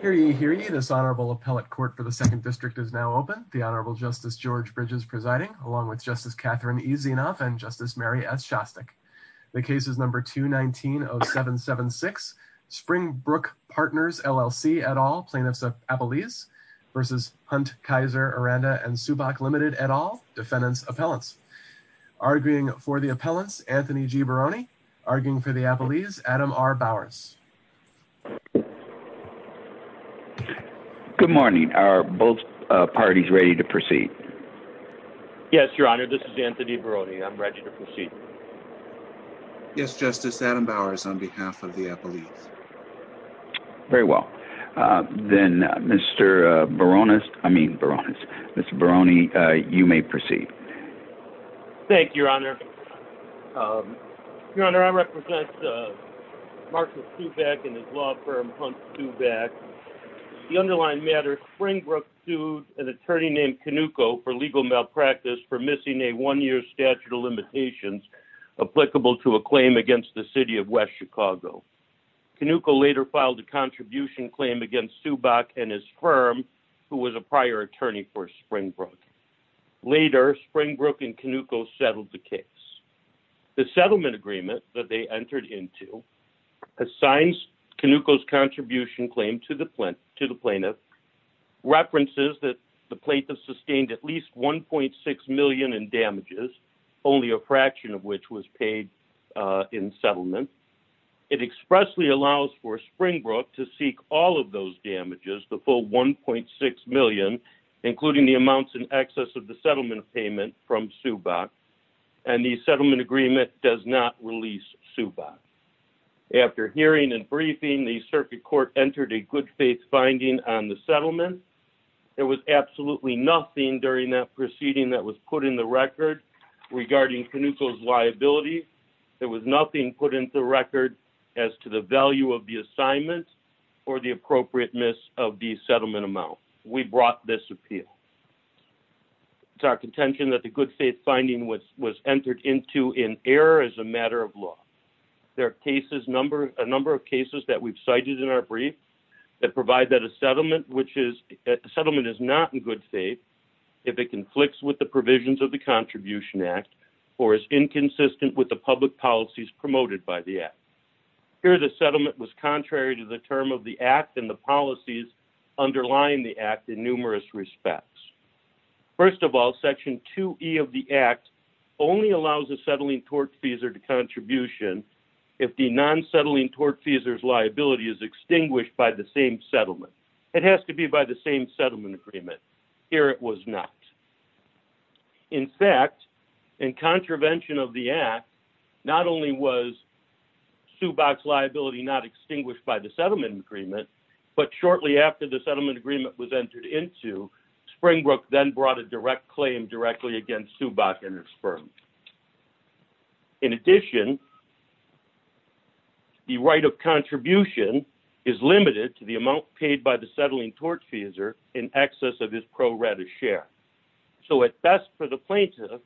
Hear ye, hear ye. This Honorable Appellate Court for the 2nd District is now open. The Honorable Justice George Bridges presiding, along with Justice Catherine E. Zienoff and Justice Mary S. Shostak. The case is number 219-0776. Springbrook Partners LLC et al., Plaintiffs Appellees v. Hunt, Kaiser, Aranda & Subach Ltd. et al., Defendants Appellants. Arguing for the Appellants, Anthony G. Barone. Arguing for the Appellees, Adam R. Bowers. Good morning. Are both parties ready to proceed? Yes, Your Honor. This is Anthony Barone. I'm ready to proceed. Yes, Justice. Adam Bowers on behalf of the Appellees. Very well. Then, Mr. Barones, I mean Barones, Mr. Barone, you may proceed. Thank you, Your Honor. Your Honor, I represent Marcus Subach and his law firm, Hunt Subach. The underlying matter, Springbrook sued an attorney named Canuco for legal malpractice for missing a one-year statute of limitations applicable to a claim against the City of West Chicago. Canuco later filed a contribution claim against Subach and his firm, who was a prior attorney for Springbrook. Later, Springbrook and Canuco settled the case. The settlement agreement that they entered into assigns Canuco's contribution claim to the plaintiff, references that the plaintiff sustained at least $1.6 million in damages, only a fraction of which was paid in settlement. It expressly allows for Springbrook to seek all of those damages, the full $1.6 million, including the amounts in excess of the settlement payment from Subach, and the settlement agreement does not release Subach. After hearing and briefing, the circuit court entered a good-faith finding on the settlement. There was absolutely nothing during that proceeding that was put in the record regarding Canuco's liability. There was nothing put into the record as to the value of the assignment or the appropriateness of the settlement amount. We brought this appeal. It's our contention that the good-faith finding was entered into in error as a matter of law. There are a number of cases that we've cited in our brief that provide that a settlement is not in good faith if it conflicts with the provisions of the Contribution Act or is inconsistent with the public policies promoted by the Act. Here the settlement was contrary to the term of the Act and the policies underlying the Act in numerous respects. First of all, Section 2E of the Act only allows a settling tortfeasor to contribution if the non-settling tortfeasor's liability is extinguished by the same settlement. It has to be by the same settlement agreement. Here it was not. In fact, in contravention of the Act, not only was Subach's liability not extinguished by the settlement agreement, but shortly after the settlement agreement was entered into, Springbrook then brought a direct claim directly against Subach and his firm. In addition, the right of contribution is limited to the amount paid by the settling tortfeasor in excess of his pro rata share. So at best for the plaintiff,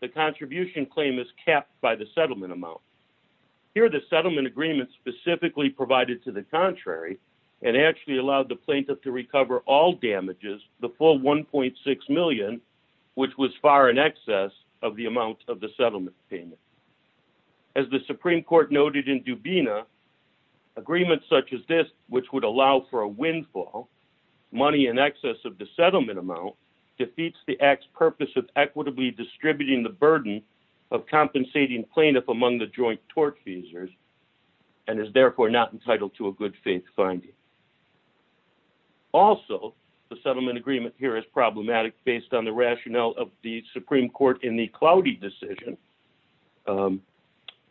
the contribution claim is capped by the settlement amount. Here the settlement agreement specifically provided to the contrary and actually allowed the plaintiff to recover all damages, the full $1.6 million, which was far in excess of the amount of the settlement payment. As the Supreme Court noted in Dubina, agreements such as this, which would allow for a windfall, money in excess of the settlement amount, defeats the Act's purpose of equitably distributing the burden of compensating plaintiff among the joint tortfeasors and is therefore not entitled to a good faith finding. Also, the settlement agreement here is problematic based on the rationale of the Supreme Court in the Cloudy decision.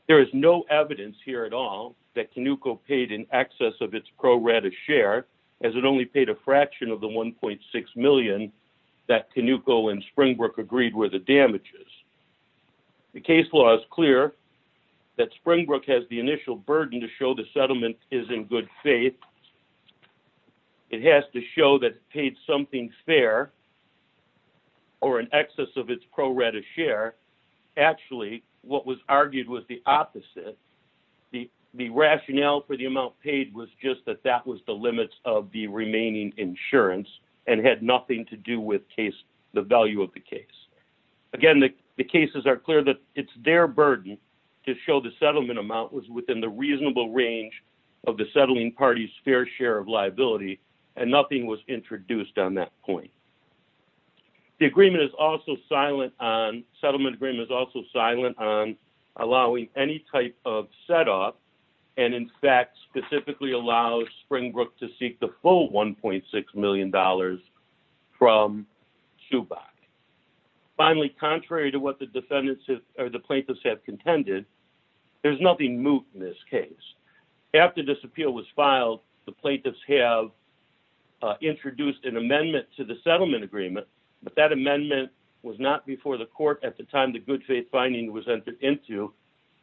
There is no evidence here at all that Canuco paid in excess of its pro rata share, as it only paid a fraction of the $1.6 million that Canuco and Springbrook agreed were the damages. The case law is clear that Springbrook has the initial burden to show the settlement is in good faith. It has to show that it paid something fair or in excess of its pro rata share. Actually, what was argued was the opposite. The rationale for the amount paid was just that that was the limits of the remaining insurance and had nothing to do with the value of the case. Again, the cases are clear that it's their burden to show the settlement amount was within the reasonable range of the settling party's fair share of liability and nothing was introduced on that point. The settlement agreement is also silent on allowing any type of setup and, in fact, specifically allows Springbrook to seek the full $1.6 million from Chubach. Finally, contrary to what the plaintiffs have contended, there's nothing moot in this case. After this appeal was filed, the plaintiffs have introduced an amendment to the settlement agreement, but that amendment was not before the court at the time the good faith finding was entered into,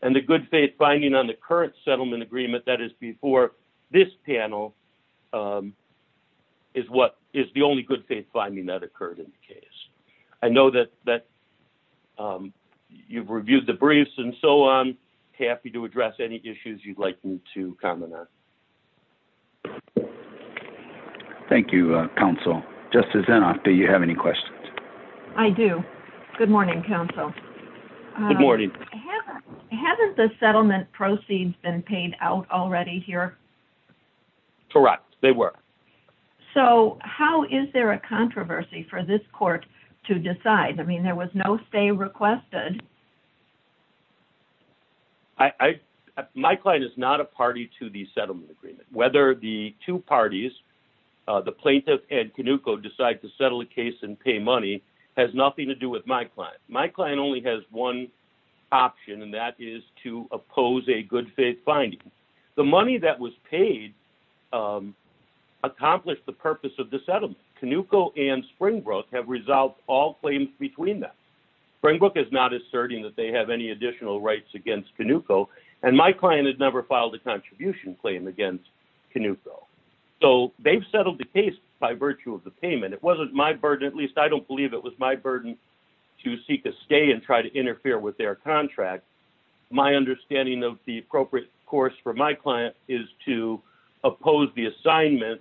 and the good faith finding on the current settlement agreement that is before this panel is the only good faith finding that occurred in the case. I know that you've reviewed the briefs and so on. Happy to address any issues you'd like me to comment on. Thank you, Counsel. Justice Inhofe, do you have any questions? I do. Good morning, Counsel. Good morning. Haven't the settlement proceeds been paid out already here? Correct, they were. So how is there a controversy for this court to decide? I mean, there was no stay requested. My client is not a party to the settlement agreement. Whether the two parties, the plaintiff and Canuco, decide to settle the case and pay money has nothing to do with my client. My client only has one option, and that is to oppose a good faith finding. The money that was paid accomplished the purpose of the settlement. Canuco and Springbrook have resolved all claims between them. Springbrook is not asserting that they have any additional rights against Canuco, and my client has never filed a contribution claim against Canuco. So they've settled the case by virtue of the payment. It wasn't my burden, at least I don't believe it was my burden, to seek a stay and try to interfere with their contract. My understanding of the appropriate course for my client is to oppose the assignment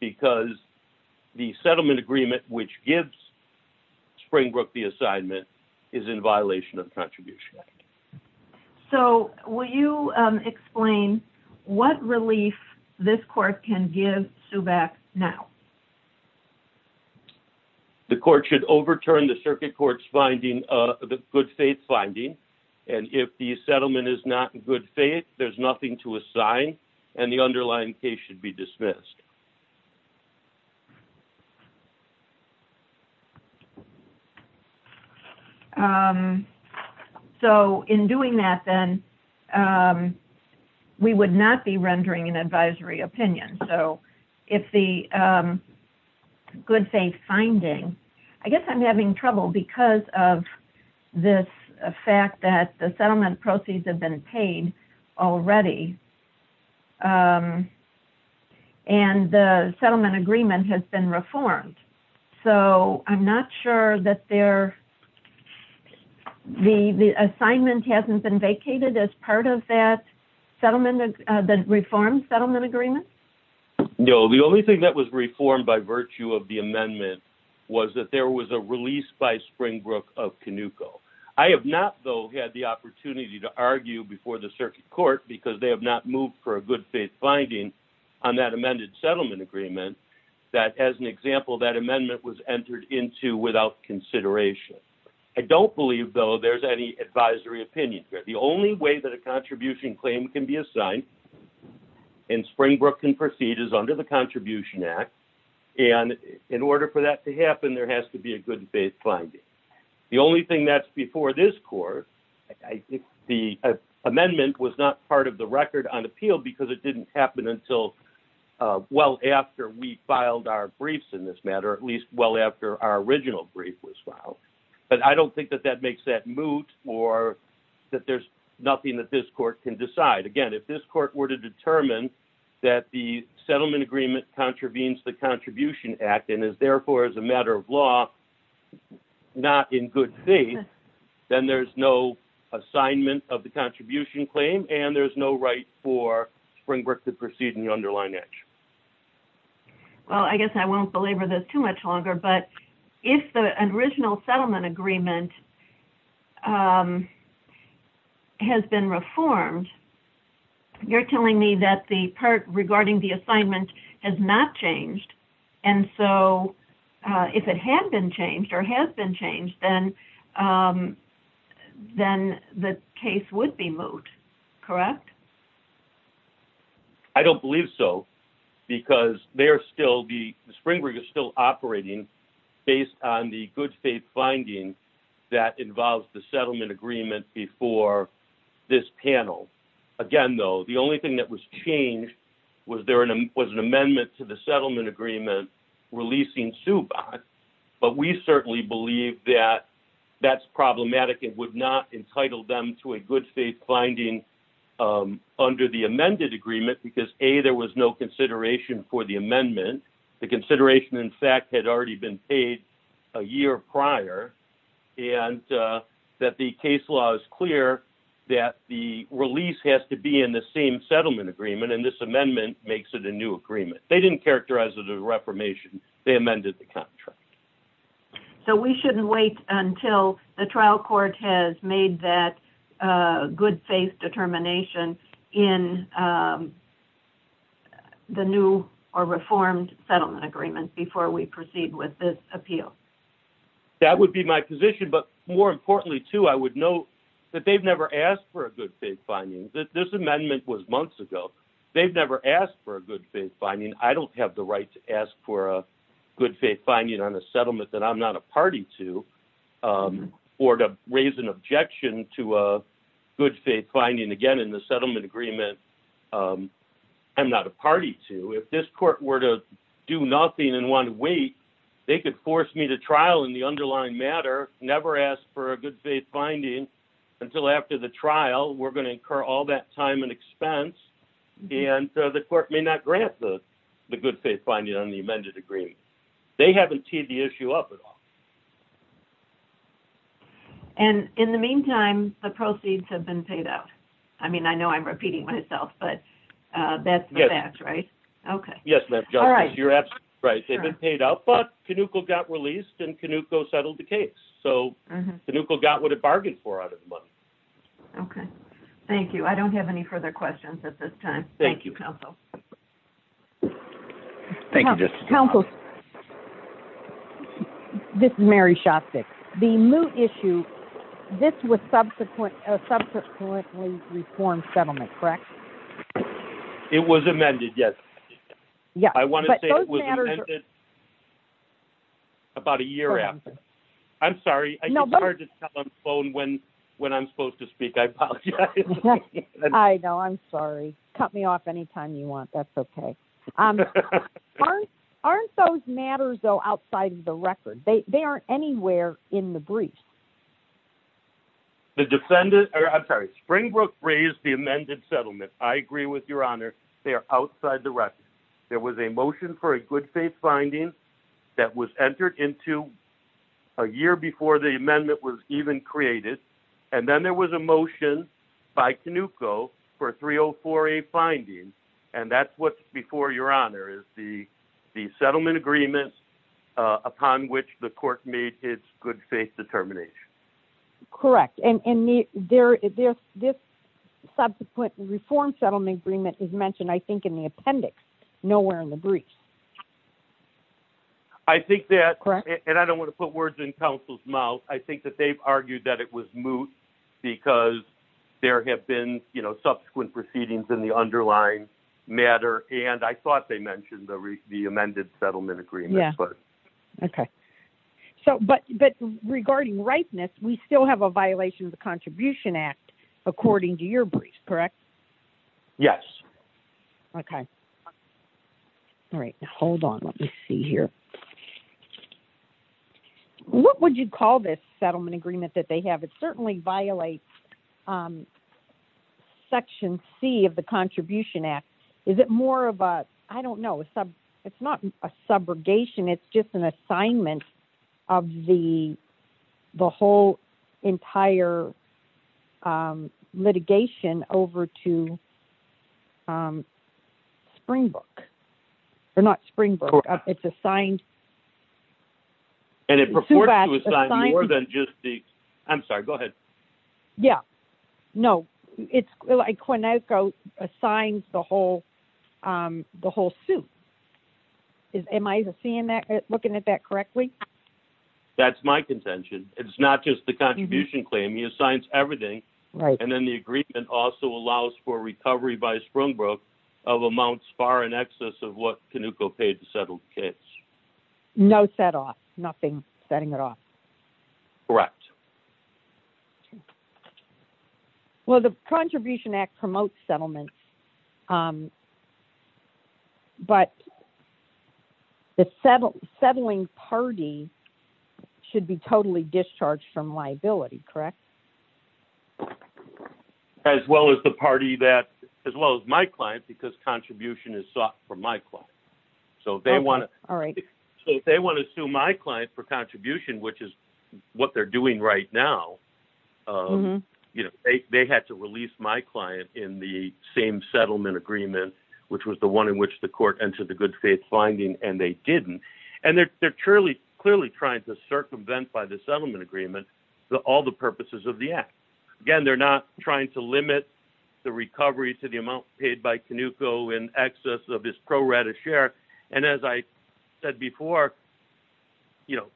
because the settlement agreement which gives Springbrook the assignment is in violation of the contribution act. So will you explain what relief this court can give SUBAC now? The court should overturn the circuit court's good faith finding, and if the settlement is not in good faith, there's nothing to assign, So in doing that, then, we would not be rendering an advisory opinion. So if the good faith finding, I guess I'm having trouble because of this fact that the settlement proceeds have been paid already, and the settlement agreement has been reformed, so I'm not sure that the assignment hasn't been vacated as part of that reformed settlement agreement? No, the only thing that was reformed by virtue of the amendment was that there was a release by Springbrook of Canuco. I have not, though, had the opportunity to argue before the circuit court because they have not moved for a good faith finding on that amended settlement agreement that, as an example, that amendment was entered into without consideration. I don't believe, though, there's any advisory opinion here. The only way that a contribution claim can be assigned and Springbrook can proceed is under the contribution act, and in order for that to happen, there has to be a good faith finding. The only thing that's before this court, the amendment was not part of the record on appeal because it didn't happen until well after we filed our briefs in this matter, at least well after our original brief was filed. But I don't think that that makes that moot or that there's nothing that this court can decide. Again, if this court were to determine that the settlement agreement contravenes the contribution act and is, therefore, as a matter of law, not in good faith, then there's no assignment of the contribution claim and there's no right for Springbrook to proceed in the underlying edge. Well, I guess I won't belabor this too much longer, but if an original settlement agreement has been reformed, you're telling me that the part regarding the assignment has not changed, and so if it had been changed or has been changed, then the case would be moot, correct? I don't believe so because the Springbrook is still operating based on the good faith finding that involves the settlement agreement before this panel. Again, though, the only thing that was changed was there was an amendment to the settlement agreement releasing Subodh, but we certainly believe that that's problematic. It would not entitle them to a good faith finding under the amended agreement because, A, there was no consideration for the amendment. The consideration, in fact, had already been paid a year prior, and that the case law is clear that the release has to be in the same settlement agreement, and this amendment makes it a new agreement. They didn't characterize it as a reformation. They amended the contract. So we shouldn't wait until the trial court has made that good faith determination in the new or reformed settlement agreement before we proceed with this appeal. That would be my position, but more importantly, too, I would note that they've never asked for a good faith finding. This amendment was months ago. They've never asked for a good faith finding. I don't have the right to ask for a good faith finding on a settlement that I'm not a party to or to raise an objection to a good faith finding, again, in the settlement agreement I'm not a party to. If this court were to do nothing and want to wait, they could force me to trial in the underlying matter, never ask for a good faith finding until after the trial. Well, we're going to incur all that time and expense, and the court may not grant the good faith finding on the amended agreement. They haven't teed the issue up at all. And in the meantime, the proceeds have been paid out. I mean, I know I'm repeating myself, but that's the fact, right? Yes. Okay. Yes, Madam Justice. All right. You're absolutely right. They've been paid out, but Canuko got released, and Canuko settled the case. So Canuko got what it bargained for out of the money. Okay. Thank you. I don't have any further questions at this time. Thank you, counsel. Thank you, Justice. Counsel, this is Mary Shostak. The moot issue, this was subsequently reformed settlement, correct? It was amended, yes. I want to say it was amended about a year after. I'm sorry. It's hard to tell on the phone when I'm supposed to speak. I apologize. I know. I'm sorry. Cut me off anytime you want. That's okay. Aren't those matters, though, outside of the record? They aren't anywhere in the brief. The defendant. I'm sorry. Springbrook raised the amended settlement. I agree with Your Honor. They are outside the record. There was a motion for a good faith finding that was entered into a year before the amendment was even created. And then there was a motion by Canuko for a 304A finding. And that's what's before Your Honor is the settlement agreement upon which the court made its good faith determination. Correct. And this subsequent reform settlement agreement is mentioned, I think, in the appendix, nowhere in the brief. I think that, and I don't want to put words in counsel's mouth, I think that they've argued that it was moot because there have been, you know, subsequent proceedings in the underlying matter. And I thought they mentioned the amended settlement agreement. Yeah. Okay. So, but regarding ripeness, we still have a violation of the Contribution Act, according to your brief, correct? Yes. Okay. All right. Hold on. Let me see here. What would you call this settlement agreement that they have? It certainly violates Section C of the Contribution Act. Is it more of a, I don't know, it's not a subrogation. It's just an assignment of the whole entire litigation over to Springbrook. Or not Springbrook. It's assigned. And it purports to assign more than just the, I'm sorry, go ahead. Yeah. No. It's like Quinoco assigned the whole suit. Am I looking at that correctly? That's my contention. It's not just the contribution claim. He assigns everything. Right. And then the agreement also allows for recovery by Springbrook of amounts far in excess of what Quinoco paid to settle the case. No set off. Nothing setting it off. Correct. Well, the Contribution Act promotes settlement. But the settling party should be totally discharged from liability, correct? As well as the party that, as well as my client, because contribution is sought from my client. All right. So if they want to sue my client for contribution, which is what they're doing right now, they had to release my client in the same settlement agreement, which was the one in which the court entered the good faith finding, and they didn't. And they're clearly trying to circumvent by the settlement agreement all the purposes of the act. Again, they're not trying to limit the recovery to the amount paid by Quinoco in excess of his pro rata share. And as I said before, you know,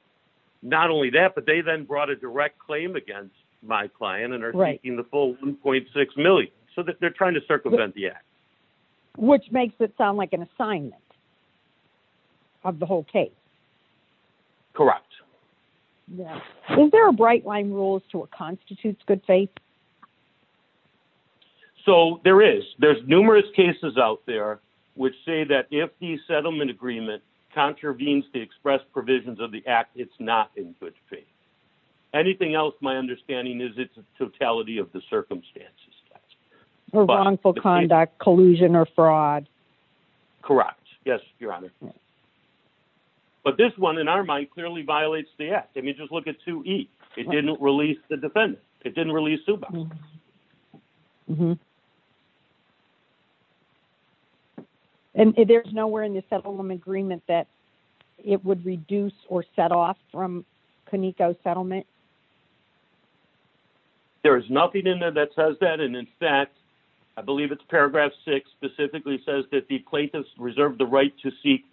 not only that, but they then brought a direct claim against my client and are writing the full 1.6 million so that they're trying to circumvent the act, which makes it sound like an assignment of the whole case. Correct. Is there a bright line rules to what constitutes good faith? So, there is. There's numerous cases out there which say that if the settlement agreement contravenes the express provisions of the act, it's not in good faith. Anything else, my understanding is it's a totality of the circumstances. Wrongful conduct, collusion, or fraud. Correct. Yes, Your Honor. But this one, in our mind, clearly violates the act. I mean, just look at 2E. It didn't release the defendant. It didn't release Suboxone. Mm-hmm. And there's nowhere in the settlement agreement that it would reduce or set off from Quinoco's settlement? There is nothing in there that says that. I believe it's paragraph 6 specifically says that the plaintiff's reserved the right to seek,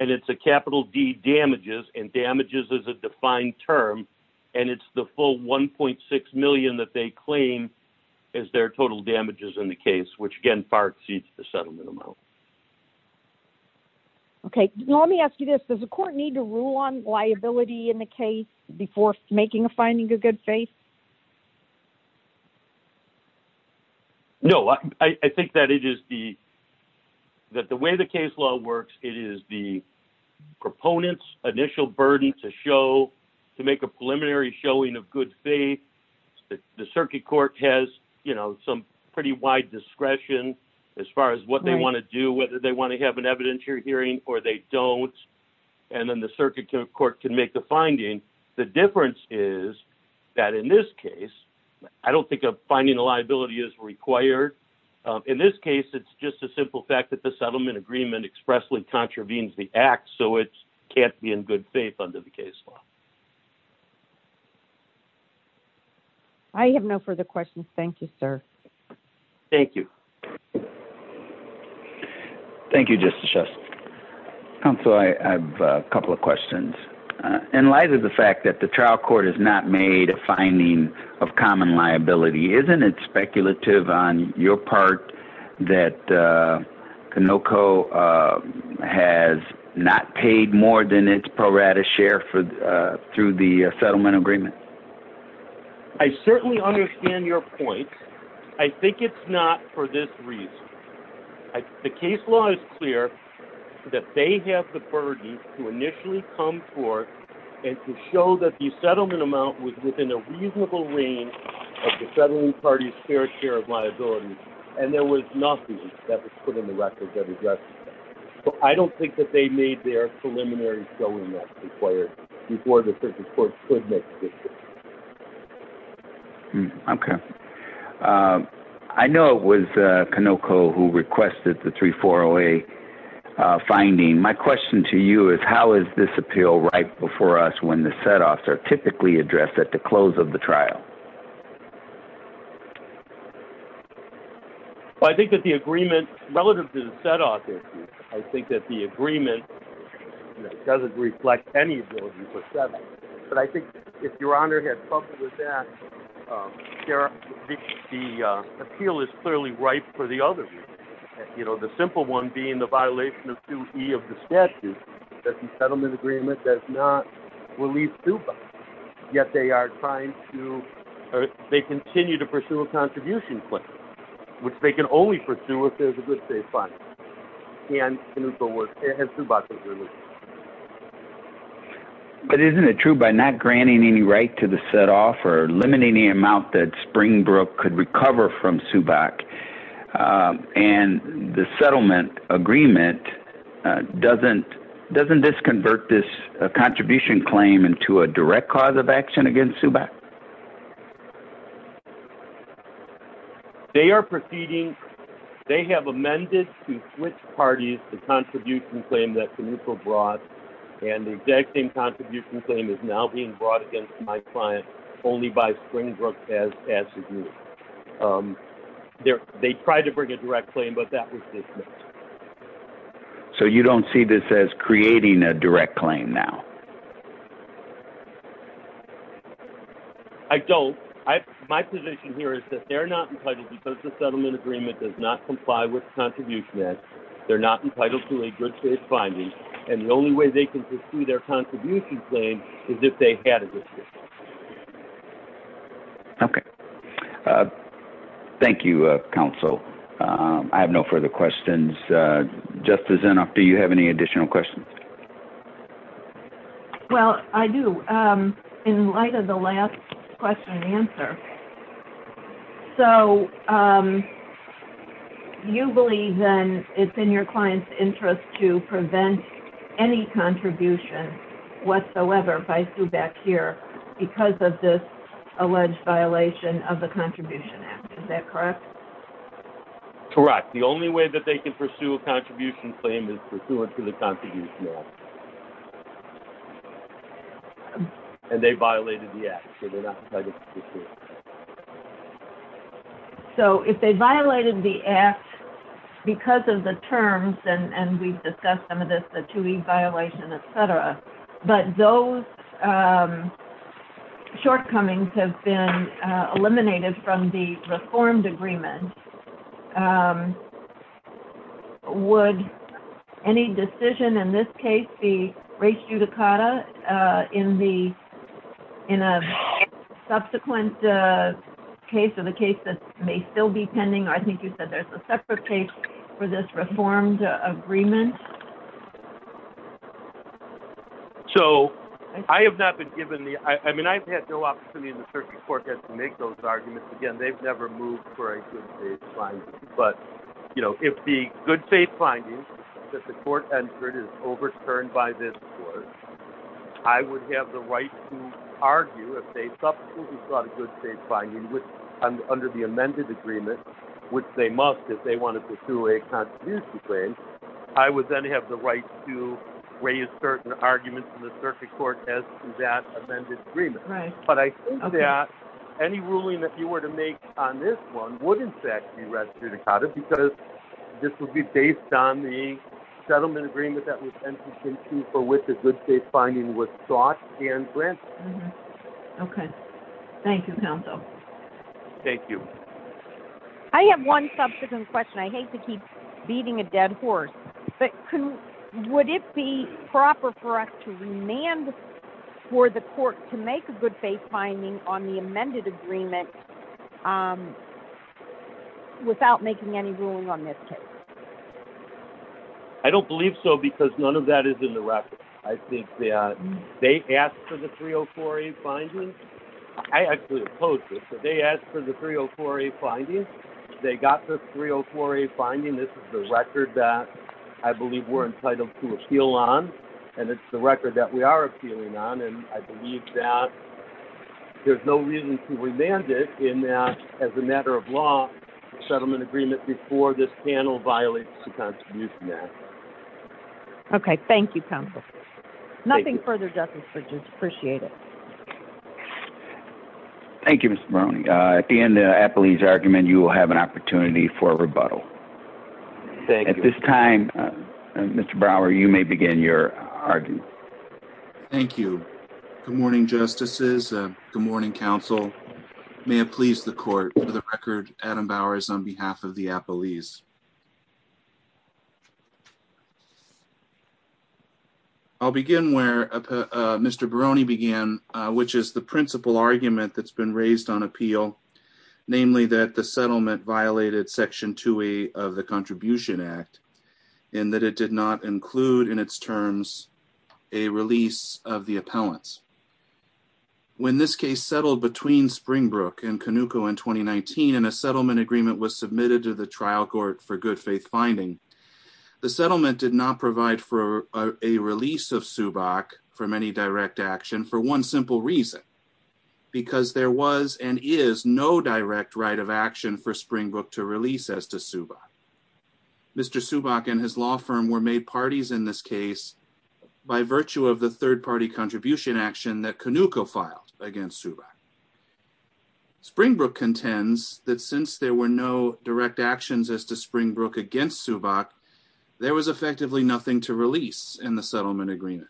and it's a capital D damages, and damages is a defined term, and it's the full 1.6 million that they claim is their total damages in the case, which, again, far exceeds the settlement amount. Okay. Now, let me ask you this. Does the court need to rule on liability in the case before making a finding of good faith? No. I think that it is the – that the way the case law works, it is the proponent's initial burden to show – to make a preliminary showing of good faith. The circuit court has, you know, some pretty wide discretion as far as what they want to do, whether they want to have an evidentiary hearing or they don't, and then the circuit court can make the finding. The difference is that in this case, I don't think a finding of liability is required. In this case, it's just a simple fact that the settlement agreement expressly contravenes the act, so it can't be in good faith under the case law. I have no further questions. Thank you, sir. Thank you. Thank you, Justice Schuster. Counsel, I have a couple of questions. In light of the fact that the trial court has not made a finding of common liability, isn't it speculative on your part that Canoco has not paid more than its pro rata share through the settlement agreement? I certainly understand your point. I think it's not for this reason. The case law is clear that they have the burden to initially come forth and to show that the settlement amount was within a reasonable range of the settling party's fair share of liability, and there was nothing that was put in the record that addressed that. So, I don't think that they made their preliminary showing that's required before the circuit court could make a decision. Okay. I know it was Canoco who requested the 340A finding. My question to you is how is this appeal right before us when the set-offs are typically addressed at the close of the trial? I think that the agreement, relative to the set-off issue, I think that the agreement doesn't reflect any ability for settlement. But I think if Your Honor had trouble with that, the appeal is clearly ripe for the other. The simple one being the violation of 2E of the statute, that the settlement agreement does not release Zuboff. Yet, they continue to pursue a contribution claim, which they can only pursue if there's a good case finding, and Zuboff is released. But isn't it true by not granting any right to the set-off or limiting the amount that Springbrook could recover from Zuboff, and the settlement agreement doesn't disconvert this contribution claim into a direct cause of action against Zuboff? They are proceeding. They have amended to switch parties the contribution claim that Canoco brought, and the exact same contribution claim is now being brought against my client only by Springbrook as a group. They tried to bring a direct claim, but that was dismissed. So you don't see this as creating a direct claim now? I don't. My position here is that they're not entitled because the settlement agreement does not comply with the contribution act. They're not entitled to a good case finding, and the only way they can pursue their contribution claim is if they had a dispute. Okay. Thank you, Counsel. I have no further questions. Justice Inhofe, do you have any additional questions? Well, I do. In light of the last question and answer, so you believe then it's in your client's interest to prevent any contribution whatsoever by Zuboff here because of this alleged violation of the contribution act. Is that correct? Correct. The only way that they can pursue a contribution claim is pursuant to the contribution act. And they violated the act, so they're not entitled to a dispute. So if they violated the act because of the terms, and we've discussed some of this, the 2E violation, et cetera, but those shortcomings have been eliminated from the reformed agreement, would any decision in this case be res judicata in a subsequent case or the case that may still be pending? I think you said there's a separate case for this reformed agreement. So I have not been given the – I mean, I've had no opportunity in the circuit court to make those arguments. Again, they've never moved for a good-faith finding. But, you know, if the good-faith finding that the court entered is overturned by this court, I would have the right to argue if they subsequently sought a good-faith finding under the amended agreement, which they must if they want to pursue a contribution claim. I would then have the right to raise certain arguments in the circuit court as to that amended agreement. Right. But I think that any ruling that you were to make on this one would, in fact, be res judicata because this would be based on the settlement agreement that was entered into for which the good-faith finding was sought and granted. Okay. Thank you, counsel. Thank you. I have one subsequent question. I hate to keep beating a dead horse. But would it be proper for us to remand for the court to make a good-faith finding on the amended agreement without making any ruling on this case? I don't believe so because none of that is in the record. I think that they asked for the 304A finding. I actually oppose this. They asked for the 304A finding. They got the 304A finding. This is the record that I believe we're entitled to appeal on. And it's the record that we are appealing on. And I believe that there's no reason to remand it in that, as a matter of law, the settlement agreement before this panel violates the contribution act. Okay. Thank you, counsel. Nothing further, Justice Bridges. Appreciate it. Thank you, Mr. Browning. At the end of the Apollese argument, you will have an opportunity for a rebuttal. Thank you. At this time, Mr. Brower, you may begin your argument. Thank you. Good morning, justices. Good morning, counsel. May it please the court, for the record, Adam Bower is on behalf of the Apollese. I'll begin where Mr. Barone began, which is the principal argument that's been raised on appeal, namely that the settlement violated section 2A of the contribution act, and that it did not include in its terms a release of the appellants. When this case settled between Springbrook and Canuco in 2019, and a settlement agreement was submitted to the trial court for good faith finding, the settlement did not provide for a release of Subak from any direct action for one simple reason, because there was and is no direct right of action for Springbrook to release as to Subak. Mr. Subak and his law firm were made parties in this case by virtue of the third-party contribution action that Canuco filed against Subak. Springbrook contends that since there were no direct actions as to Springbrook against Subak, there was effectively nothing to release in the settlement agreement.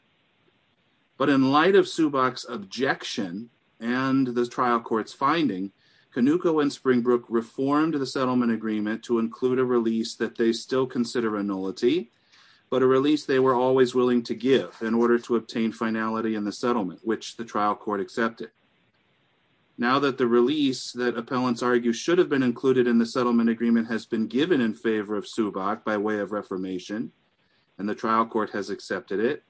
But in light of Subak's objection and the trial court's finding, Canuco and Springbrook reformed the settlement agreement to include a release that they still consider a nullity, but a release they were always willing to give in order to obtain finality in the settlement, which the trial court accepted. Now that the release that appellants argue should have been included in the settlement agreement has been given in favor of Subak by way of reformation, and the trial court has accepted it,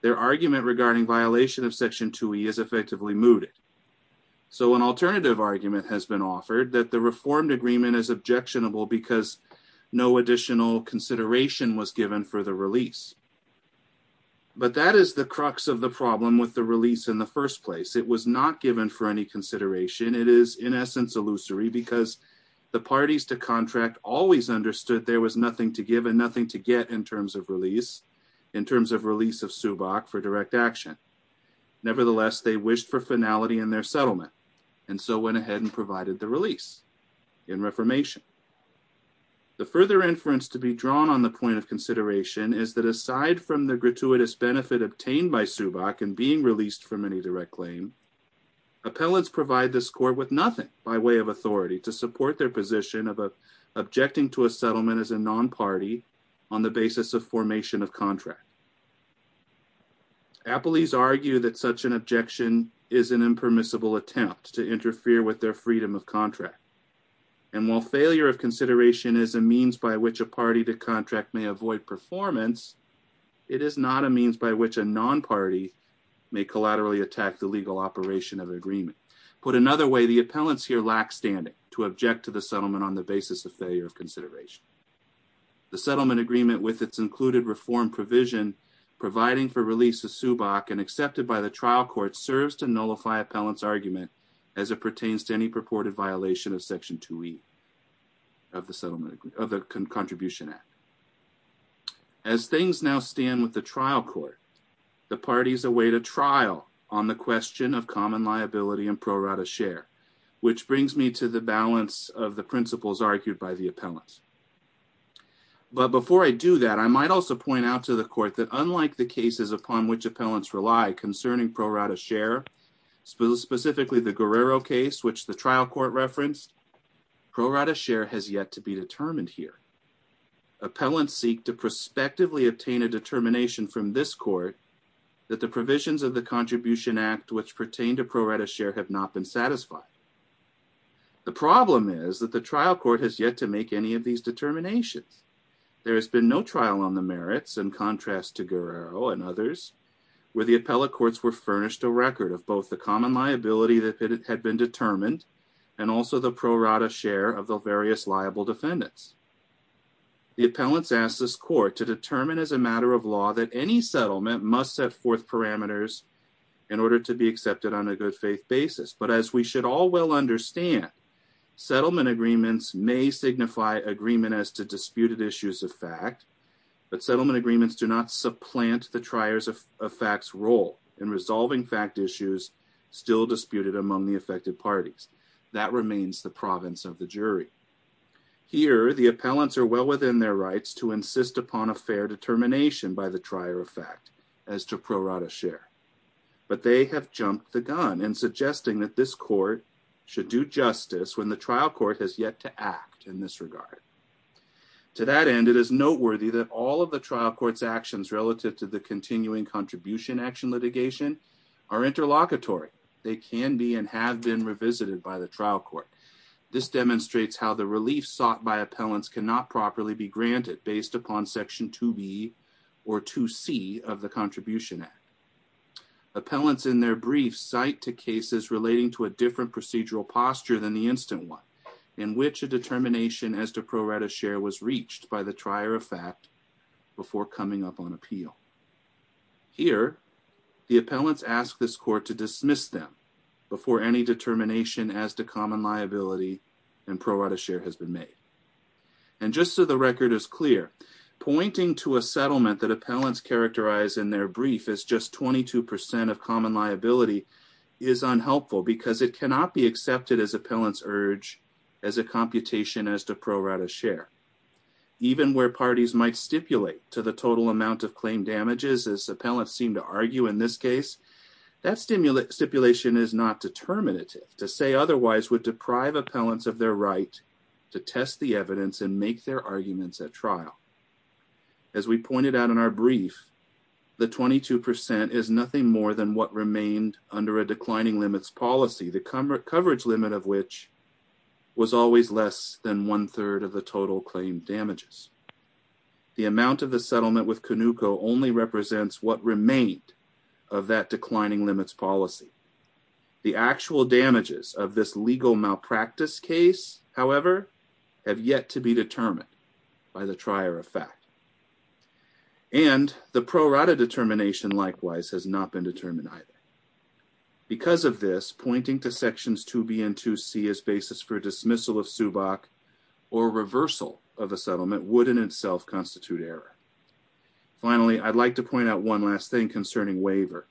their argument regarding violation of section 2E is effectively mooted. So an alternative argument has been offered that the reformed agreement is objectionable because no additional consideration was given for the release. But that is the crux of the problem with the release in the first place. It was not given for any consideration. It is in essence illusory because the parties to contract always understood there was nothing to give and nothing to get in terms of release, in terms of release of Subak for direct action. Nevertheless, they wished for finality in their settlement and so went ahead and provided the release in reformation. The further inference to be drawn on the point of consideration is that aside from the gratuitous benefit obtained by Subak and being released from any direct claim, appellants provide this court with nothing by way of authority to support their position of objecting to a settlement as a non-party on the basis of formation of contract. Appellees argue that such an objection is an impermissible attempt to interfere with their freedom of contract. And while failure of consideration is a means by which a party to contract may avoid performance, it is not a means by which a non-party may collaterally attack the legal operation of agreement. Put another way, the appellants here lack standing to object to the settlement on the basis of failure of consideration. The settlement agreement with its included reform provision providing for release of Subak and accepted by the trial court serves to nullify appellant's argument as it pertains to any purported violation of Section 2E of the Contribution Act. As things now stand with the trial court, the parties await a trial on the question of common liability and pro rata share, which brings me to the balance of the principles argued by the appellants. But before I do that, I might also point out to the court that unlike the cases upon which appellants rely concerning pro rata share, specifically the Guerrero case, which the trial court referenced, pro rata share has yet to be determined here. Appellants seek to prospectively obtain a determination from this court that the provisions of the Contribution Act which pertain to pro rata share have not been satisfied. The problem is that the trial court has yet to make any of these determinations. There has been no trial on the merits, in contrast to Guerrero and others, where the appellate courts were furnished a record of both the common liability that had been determined and also the pro rata share of the various liable defendants. The appellants ask this court to determine as a matter of law that any settlement must set forth parameters in order to be accepted on a good faith basis. But as we should all well understand, settlement agreements may signify agreement as to disputed issues of fact, but settlement agreements do not supplant the trier of fact's role in resolving fact issues still disputed among the affected parties. That remains the province of the jury. Here, the appellants are well within their rights to insist upon a fair determination by the trier of fact as to pro rata share, but they have jumped the gun in suggesting that this court should do justice when the trial court has yet to act in this regard. To that end, it is noteworthy that all of the trial court's actions relative to the continuing contribution action litigation are interlocutory. They can be and have been revisited by the trial court. This demonstrates how the relief sought by appellants cannot properly be granted based upon Section 2B or 2C of the Contribution Act. Appellants in their brief cite to cases relating to a different procedural posture than the instant one, in which a determination as to pro rata share was reached by the trier of fact before coming up on appeal. Here, the appellants ask this court to dismiss them before any determination as to common liability and pro rata share has been made. And just so the record is clear, pointing to a settlement that appellants characterize in their brief as just 22% of common liability is unhelpful because it cannot be accepted as appellant's urge as a computation as to pro rata share. Even where parties might stipulate to the total amount of claim damages, as appellants seem to argue in this case, that stipulation is not determinative. To say otherwise would deprive appellants of their right to test the evidence and make their arguments at trial. As we pointed out in our brief, the 22% is nothing more than what remained under a declining limits policy, the coverage limit of which was always less than one-third of the total claim damages. The amount of the settlement with Canuco only represents what remained of that declining limits policy. The actual damages of this legal malpractice case, however, have yet to be determined by the trier of fact. And the pro rata determination, likewise, has not been determined either. Because of this, pointing to sections 2B and 2C as basis for dismissal of SUBOC or reversal of a settlement would in itself constitute error. Finally, I'd like to point out one last thing concerning waiver.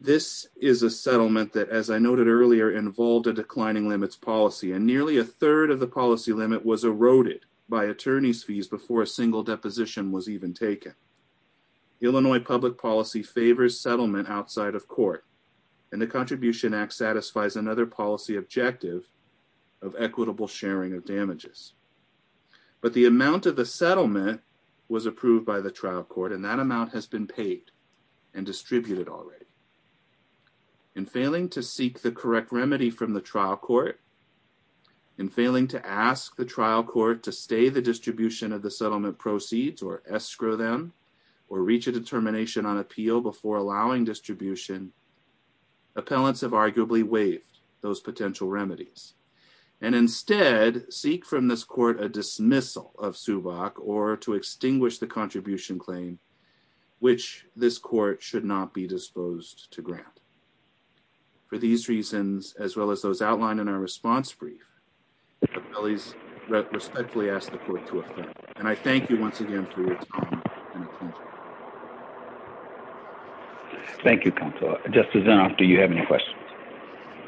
This is a settlement that, as I noted earlier, involved a declining limits policy, and nearly a third of the policy limit was eroded by attorney's fees before a single deposition was even taken. Illinois public policy favors settlement outside of court, and the Contribution Act satisfies another policy objective of equitable sharing of damages. But the amount of the settlement was approved by the trial court, and that amount has been paid and distributed already. In failing to seek the correct remedy from the trial court, In failing to ask the trial court to stay the distribution of the settlement proceeds or escrow them, or reach a determination on appeal before allowing distribution, appellants have arguably waived those potential remedies, and instead seek from this court a dismissal of SUBOC or to extinguish the contribution claim, which this court should not be disposed to grant. For these reasons, as well as those outlined in our response brief, I respectfully ask the court to adjourn. And I thank you once again for your time and attention. Thank you, Counselor. Justice Zinoff, do you have any questions?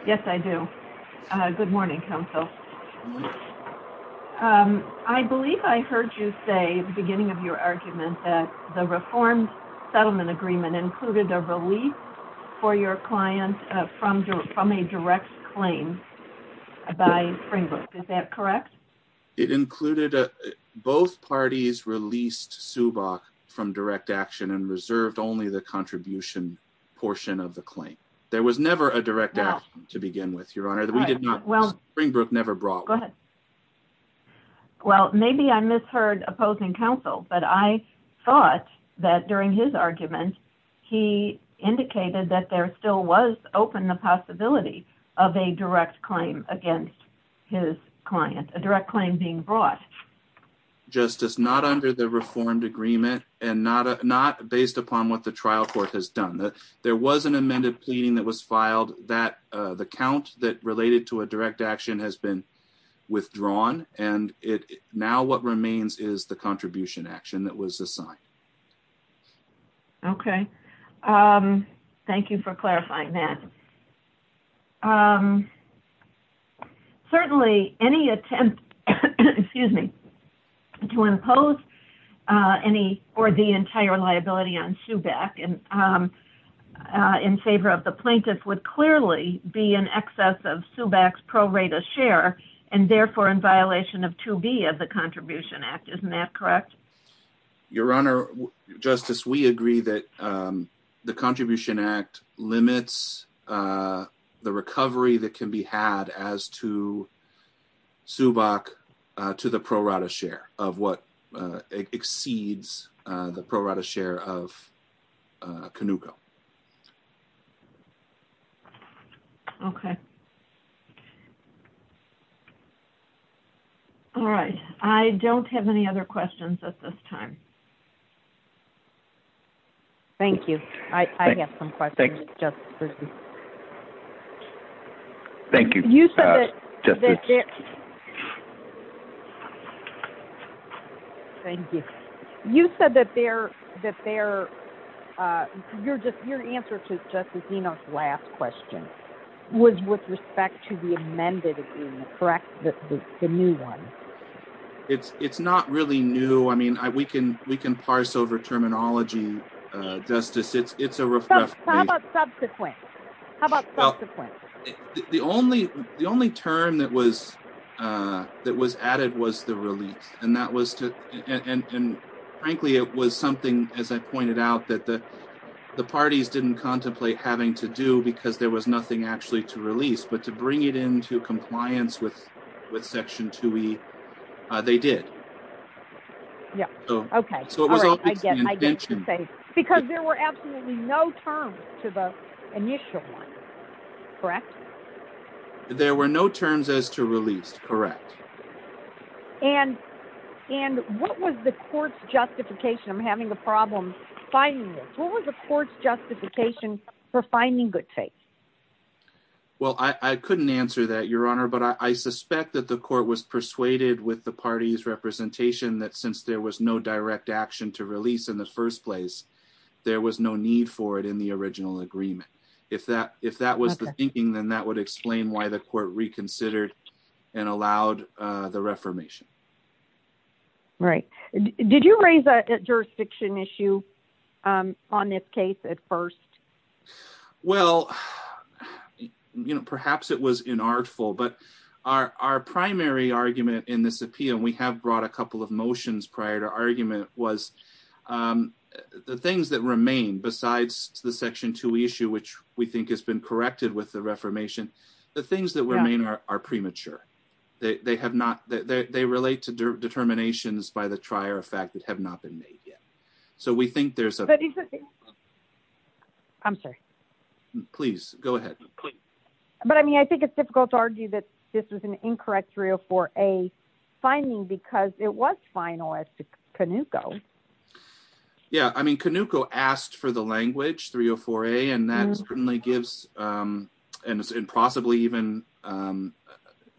Yes, I do. Good morning, Counsel. I believe I heard you say at the beginning of your argument that the reformed settlement agreement included a relief for your client from a direct claim by Springbrook. Is that correct? It included both parties released SUBOC from direct action and reserved only the contribution portion of the claim. There was never a direct action to begin with, Your Honor. Springbrook never brought one. Go ahead. Well, maybe I misheard opposing counsel, but I thought that during his argument, he indicated that there still was open the possibility of a direct claim against his client, a direct claim being brought. Justice, not under the reformed agreement and not based upon what the trial court has done. There was an amended pleading that was filed that the count that related to a direct action has been withdrawn. And now what remains is the contribution action that was assigned. Okay. Thank you for clarifying that. Certainly, any attempt to impose any or the entire liability on SUBOC in favor of the plaintiff would clearly be in excess of SUBOC's pro rata share and therefore in violation of 2B of the Contribution Act. Isn't that correct? Your Honor, Justice, we agree that the Contribution Act limits the recovery that can be had as to SUBOC to the pro rata share of what exceeds the pro rata share of Canuco. Okay. All right. I don't have any other questions at this time. Thank you. I have some questions. Thank you. Thank you, Justice. Thank you. You said that your answer to Justice Dino's last question was with respect to the amended agreement, correct? The new one. It's not really new. I mean, we can parse over terminology, Justice. It's a reflection. How about subsequent? How about subsequent? The only term that was added was the release. And frankly, it was something, as I pointed out, that the parties didn't contemplate having to do because there was nothing actually to release. But to bring it into compliance with Section 2E, they did. Yeah. Okay. Because there were absolutely no terms to the initial one. Correct? There were no terms as to release. Correct. And what was the court's justification of having a problem finding this? What was the court's justification for finding good faith? Well, I couldn't answer that, Your Honor. But I suspect that the court was persuaded with the party's representation that since there was no direct action to release in the first place, there was no need for it in the original agreement. If that was the thinking, then that would explain why the court reconsidered and allowed the reformation. Right. Did you raise a jurisdiction issue on this case at first? Well, you know, perhaps it was inartful. But our primary argument in this appeal, and we have brought a couple of motions prior to argument, was the things that remain besides the Section 2E issue, which we think has been corrected with the reformation, the things that remain are premature. They relate to determinations by the trier of fact that have not been made yet. So we think there's a... I'm sorry. Please, go ahead. But I mean, I think it's difficult to argue that this was an incorrect 304A finding because it was final as to Canuco. Yeah, I mean, Canuco asked for the language 304A, and that certainly gives and possibly even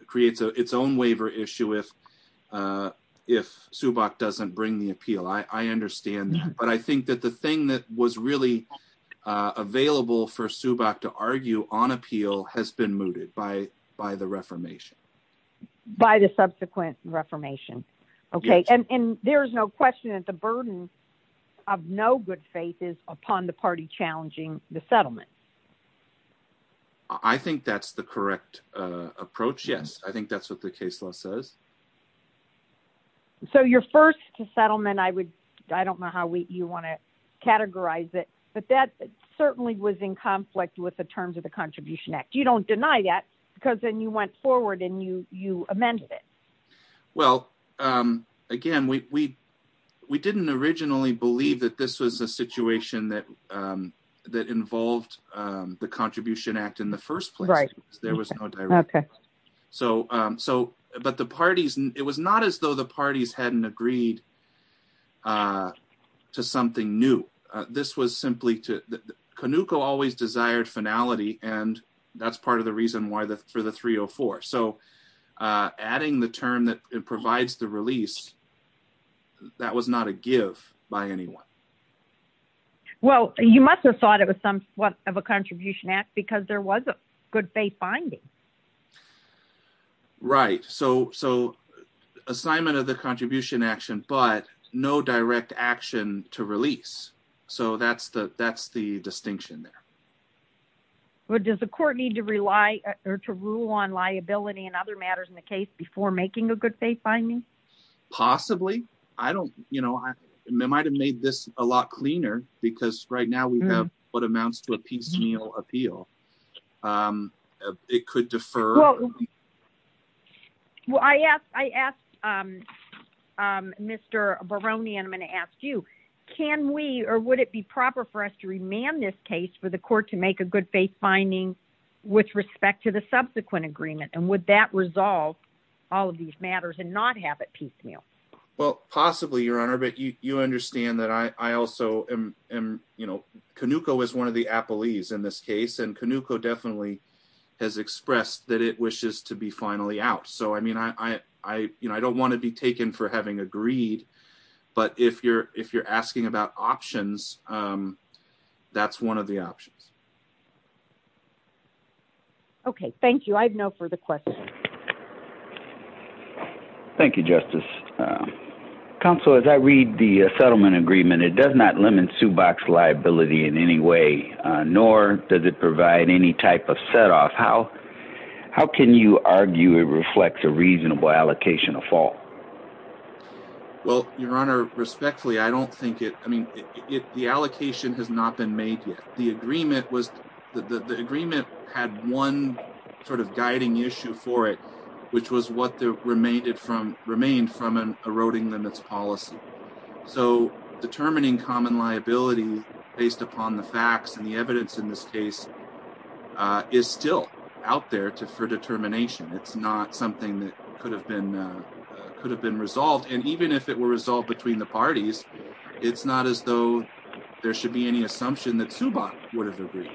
creates its own waiver issue if Subak doesn't bring the appeal. I understand. But I think that the thing that was really available for Subak to argue on appeal has been mooted by the reformation. By the subsequent reformation. Okay. And there is no question that the burden of no good faith is upon the party challenging the settlement. I think that's the correct approach, yes. I think that's what the case law says. So your first settlement, I don't know how you want to categorize it, but that certainly was in conflict with the terms of the Contribution Act. You don't deny that because then you went forward and you amended it. Well, again, we didn't originally believe that this was a situation that involved the Contribution Act in the first place. Right. There was no direct. Okay. But it was not as though the parties hadn't agreed to something new. Canuco always desired finality, and that's part of the reason for the 304. So adding the term that provides the release, that was not a give by anyone. Well, you must have thought it was somewhat of a Contribution Act because there was a good faith finding. Right. So assignment of the Contribution Action, but no direct action to release. So that's the distinction there. Well, does the court need to rely or to rule on liability and other matters in the case before making a good faith finding? Possibly. I don't know. I might have made this a lot cleaner because right now we have what amounts to a piecemeal appeal. It could defer. Well, I asked Mr Baroni and I'm going to ask you, can we or would it be proper for us to remand this case for the court to make a good faith finding with respect to the subsequent agreement? And would that resolve all of these matters and not have it piecemeal? Well, possibly, Your Honor. But you understand that I also am. Canuco is one of the Appleys in this case, and Canuco definitely has expressed that it wishes to be finally out. So, I mean, I don't want to be taken for having agreed. But if you're if you're asking about options, that's one of the options. OK, thank you. I have no further questions. Thank you, Justice. Counsel, as I read the settlement agreement, it does not limit to box liability in any way, nor does it provide any type of set off. How how can you argue it reflects a reasonable allocation of fall? Well, Your Honor, respectfully, I don't think it I mean, the allocation has not been made yet. The agreement was the agreement had one sort of guiding issue for it, which was what they remained from remained from an eroding limits policy. So determining common liability based upon the facts and the evidence in this case is still out there to for determination. It's not something that could have been could have been resolved. And even if it were resolved between the parties, it's not as though there should be any assumption that subot would have agreed.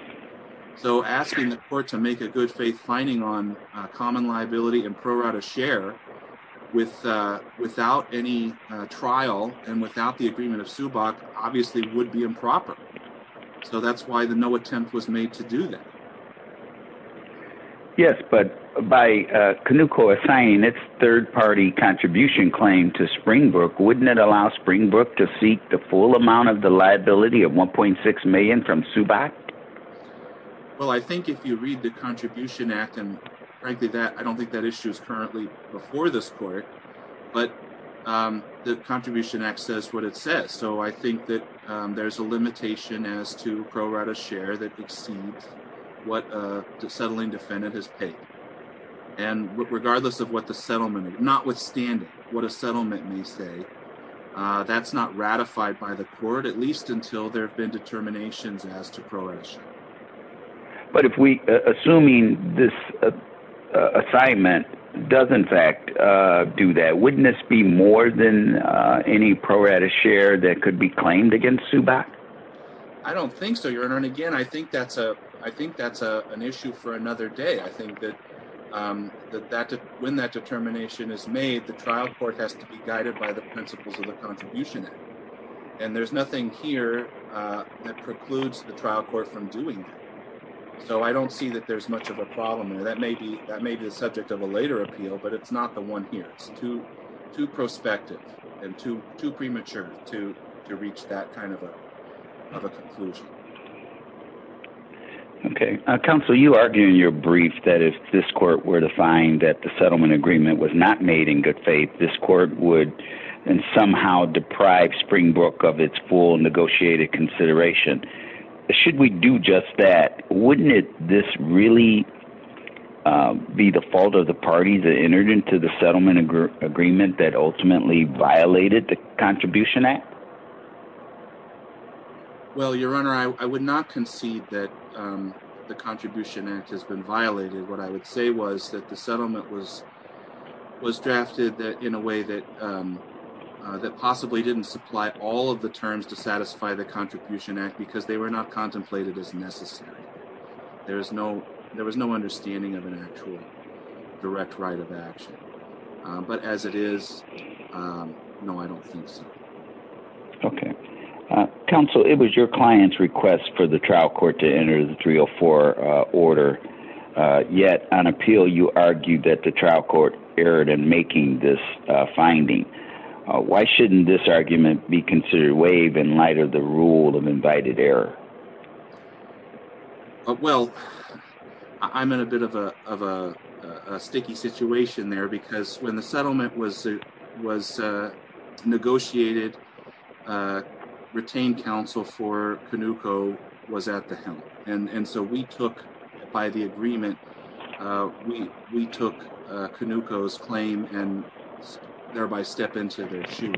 So asking the court to make a good faith finding on common liability and pro rata share with without any trial and without the agreement of subot obviously would be improper. So that's why the no attempt was made to do that. Yes, but by canoe core saying it's third party contribution claim to Springbrook. Wouldn't it allow Springbrook to seek the full amount of the liability of one point six million from subot? Well, I think if you read the Contribution Act and frankly that I don't think that issue is currently before this court, but the Contribution Act says what it says. And so I think that there's a limitation as to pro rata share that exceeds what the settling defendant has paid. And regardless of what the settlement is not withstanding what a settlement may say that's not ratified by the court at least until there have been determinations as to progress. But if we assuming this assignment does in fact do that witness be more than any pro rata share that could be claimed against subot. I don't think so your honor and again I think that's a, I think that's a, an issue for another day I think that that when that determination is made the trial court has to be guided by the principles of the Contribution Act. And there's nothing here that precludes the trial court from doing. So I don't see that there's much of a problem that may be that may be the subject of a later appeal but it's not the one here to to prospective and to to premature to to reach that kind of a conclusion. Okay, Council you argue in your brief that if this court were to find that the settlement agreement was not made in good faith this court would somehow deprived spring broke of its full negotiated consideration. Should we do just that, wouldn't it. This really be the fault of the parties that entered into the settlement agreement that ultimately violated the Contribution Act. Well your honor I would not concede that the Contribution Act has been violated what I would say was that the settlement was was drafted that in a way that that possibly didn't supply all of the terms to satisfy the Contribution Act because they were not contemplated as necessary. There is no, there was no understanding of an actual direct right of action. But as it is. No, I don't think so. Okay. Council it was your clients request for the trial court to enter the 304 order. Yet, on appeal you argued that the trial court erred and making this finding. Why shouldn't this argument be considered wave in light of the rule of invited error. Well, I'm in a bit of a, of a sticky situation there because when the settlement was, was negotiated retained counsel for Canuco was at the helm, and so we took by the agreement. We, we took Canucos claim and thereby step into their shoes.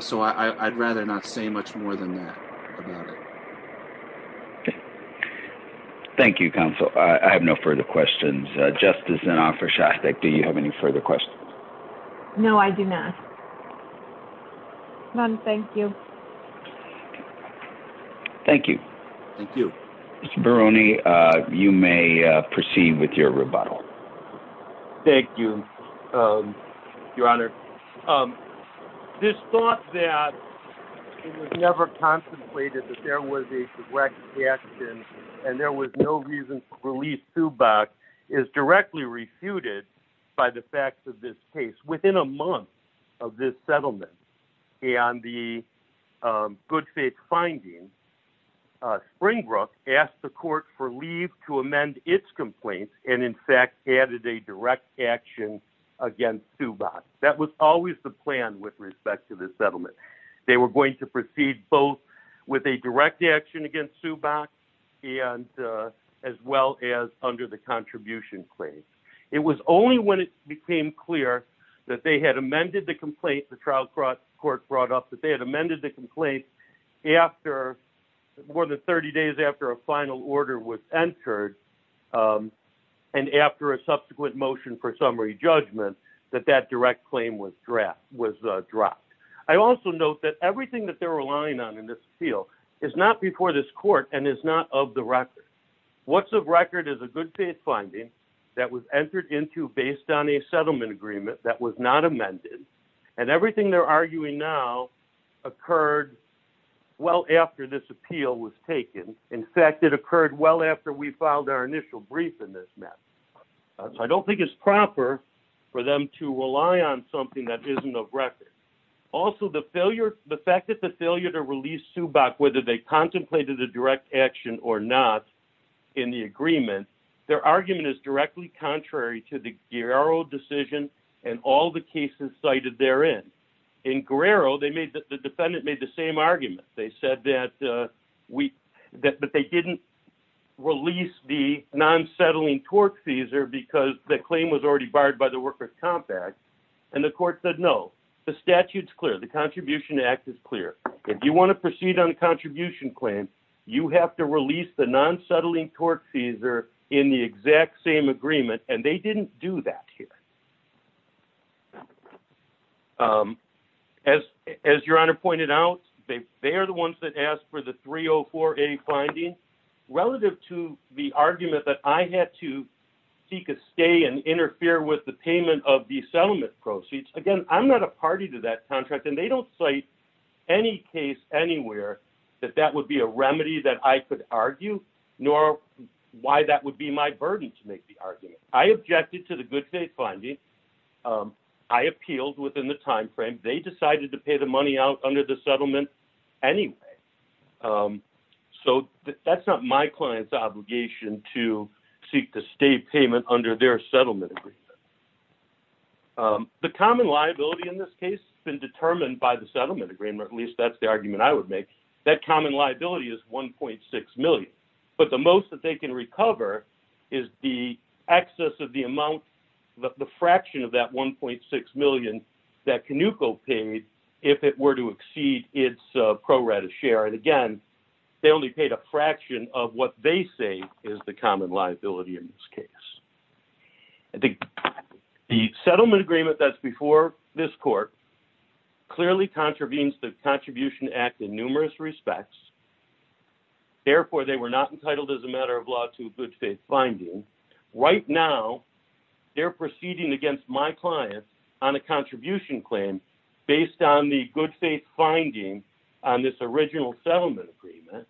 So I'd rather not say much more than that. Thank you counsel, I have no further questions, justice and offer shot that do you have any further questions. No, I do not. None. Thank you. Thank you. Thank you. Veroni, you may proceed with your rebuttal. Thank you, Your Honor. This thought that it was never contemplated that there was a direct action, and there was no reason for police to back is directly refuted by the facts of this case within a month of this settlement. And the good faith finding. Springbrook asked the court for leave to amend its complaints, and in fact added a direct action against to box, that was always the plan with respect to this settlement. They were going to proceed, both with a direct action against to box, and as well as under the contribution claim. It was only when it became clear that they had amended the complaint the trial court court brought up that they had amended the complaint. After more than 30 days after a final order was entered. And after a subsequent motion for summary judgment that that direct claim was draft was dropped. I also note that everything that they're relying on in this field is not before this court and is not of the record. What's the record is a good faith finding that was entered into based on a settlement agreement that was not amended, and everything they're arguing now occurred. Well, after this appeal was taken. In fact, it occurred well after we filed our initial brief in this map. I don't think it's proper for them to rely on something that isn't of record. Also the failure, the fact that the failure to release to back whether they contemplated a direct action or not. In the agreement, their argument is directly contrary to the euro decision, and all the cases cited there in in Guerrero they made the defendant made the same argument, they said that we that but they didn't release the non settling tort fees are because the claim was already barred by the workers compact. And the court said no, the statutes clear the Contribution Act is clear. If you want to proceed on the contribution claim, you have to release the non settling tort fees are in the exact same agreement and they didn't do that here. As, as your honor pointed out, they, they are the ones that asked for the 304 a finding relative to the argument that I had to seek a stay and interfere with the payment of the settlement proceeds again I'm not a party to that contract and they don't say any case anywhere that that would be a remedy that I could argue, nor why that would be my burden to make the argument, I objected to the good faith finding. I appealed within the timeframe they decided to pay the money out under the settlement. Anyway, so that's not my client's obligation to seek the state payment under their settlement. The common liability in this case, been determined by the settlement agreement at least that's the argument I would make that common liability is 1.6 million, but the most that they can recover is the access of the amount that the fraction of that 1.6 million that can you go paid. If it were to exceed its pro rata share and again, they only paid a fraction of what they say is the common liability in this case, I think the settlement agreement that's before this court clearly contravenes the contribution act in numerous respects. Therefore, they were not entitled as a matter of law to good faith finding right now they're proceeding against my client on a contribution claim based on the good faith finding on this original settlement agreement.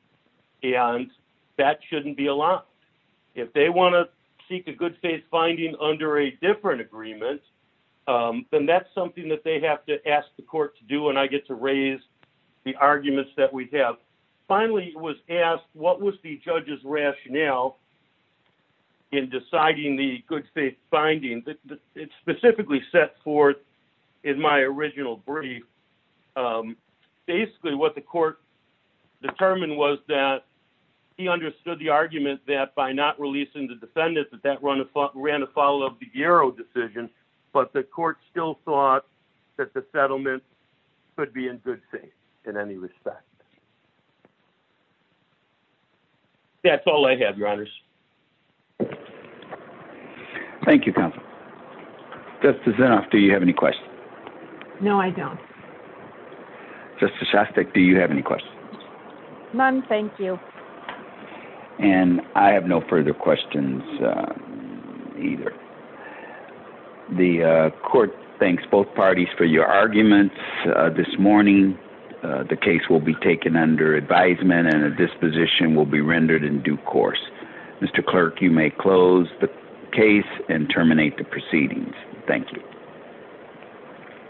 And that shouldn't be a lot. If they want to seek a good faith finding under a different agreement. Then that's something that they have to ask the court to do and I get to raise the arguments that we have finally was asked what was the judges rationale. In deciding the good faith finding that it specifically set forth in my original brief. Basically, what the court determined was that he understood the argument that by not releasing the defendant that that run a run to follow up the euro decision, but the court still thought that the settlement could be in good faith in any respect. That's all I have your honors. Thank you. This is after you have any questions. No, I don't. Just a shot stick. Do you have any questions. None. Thank you. And I have no further questions. Either. The court thanks both parties for your arguments this morning. The case will be taken under advisement and a disposition will be rendered in due course. Mr. Clerk, you may close the case and terminate the proceedings. Thank you. Thank you.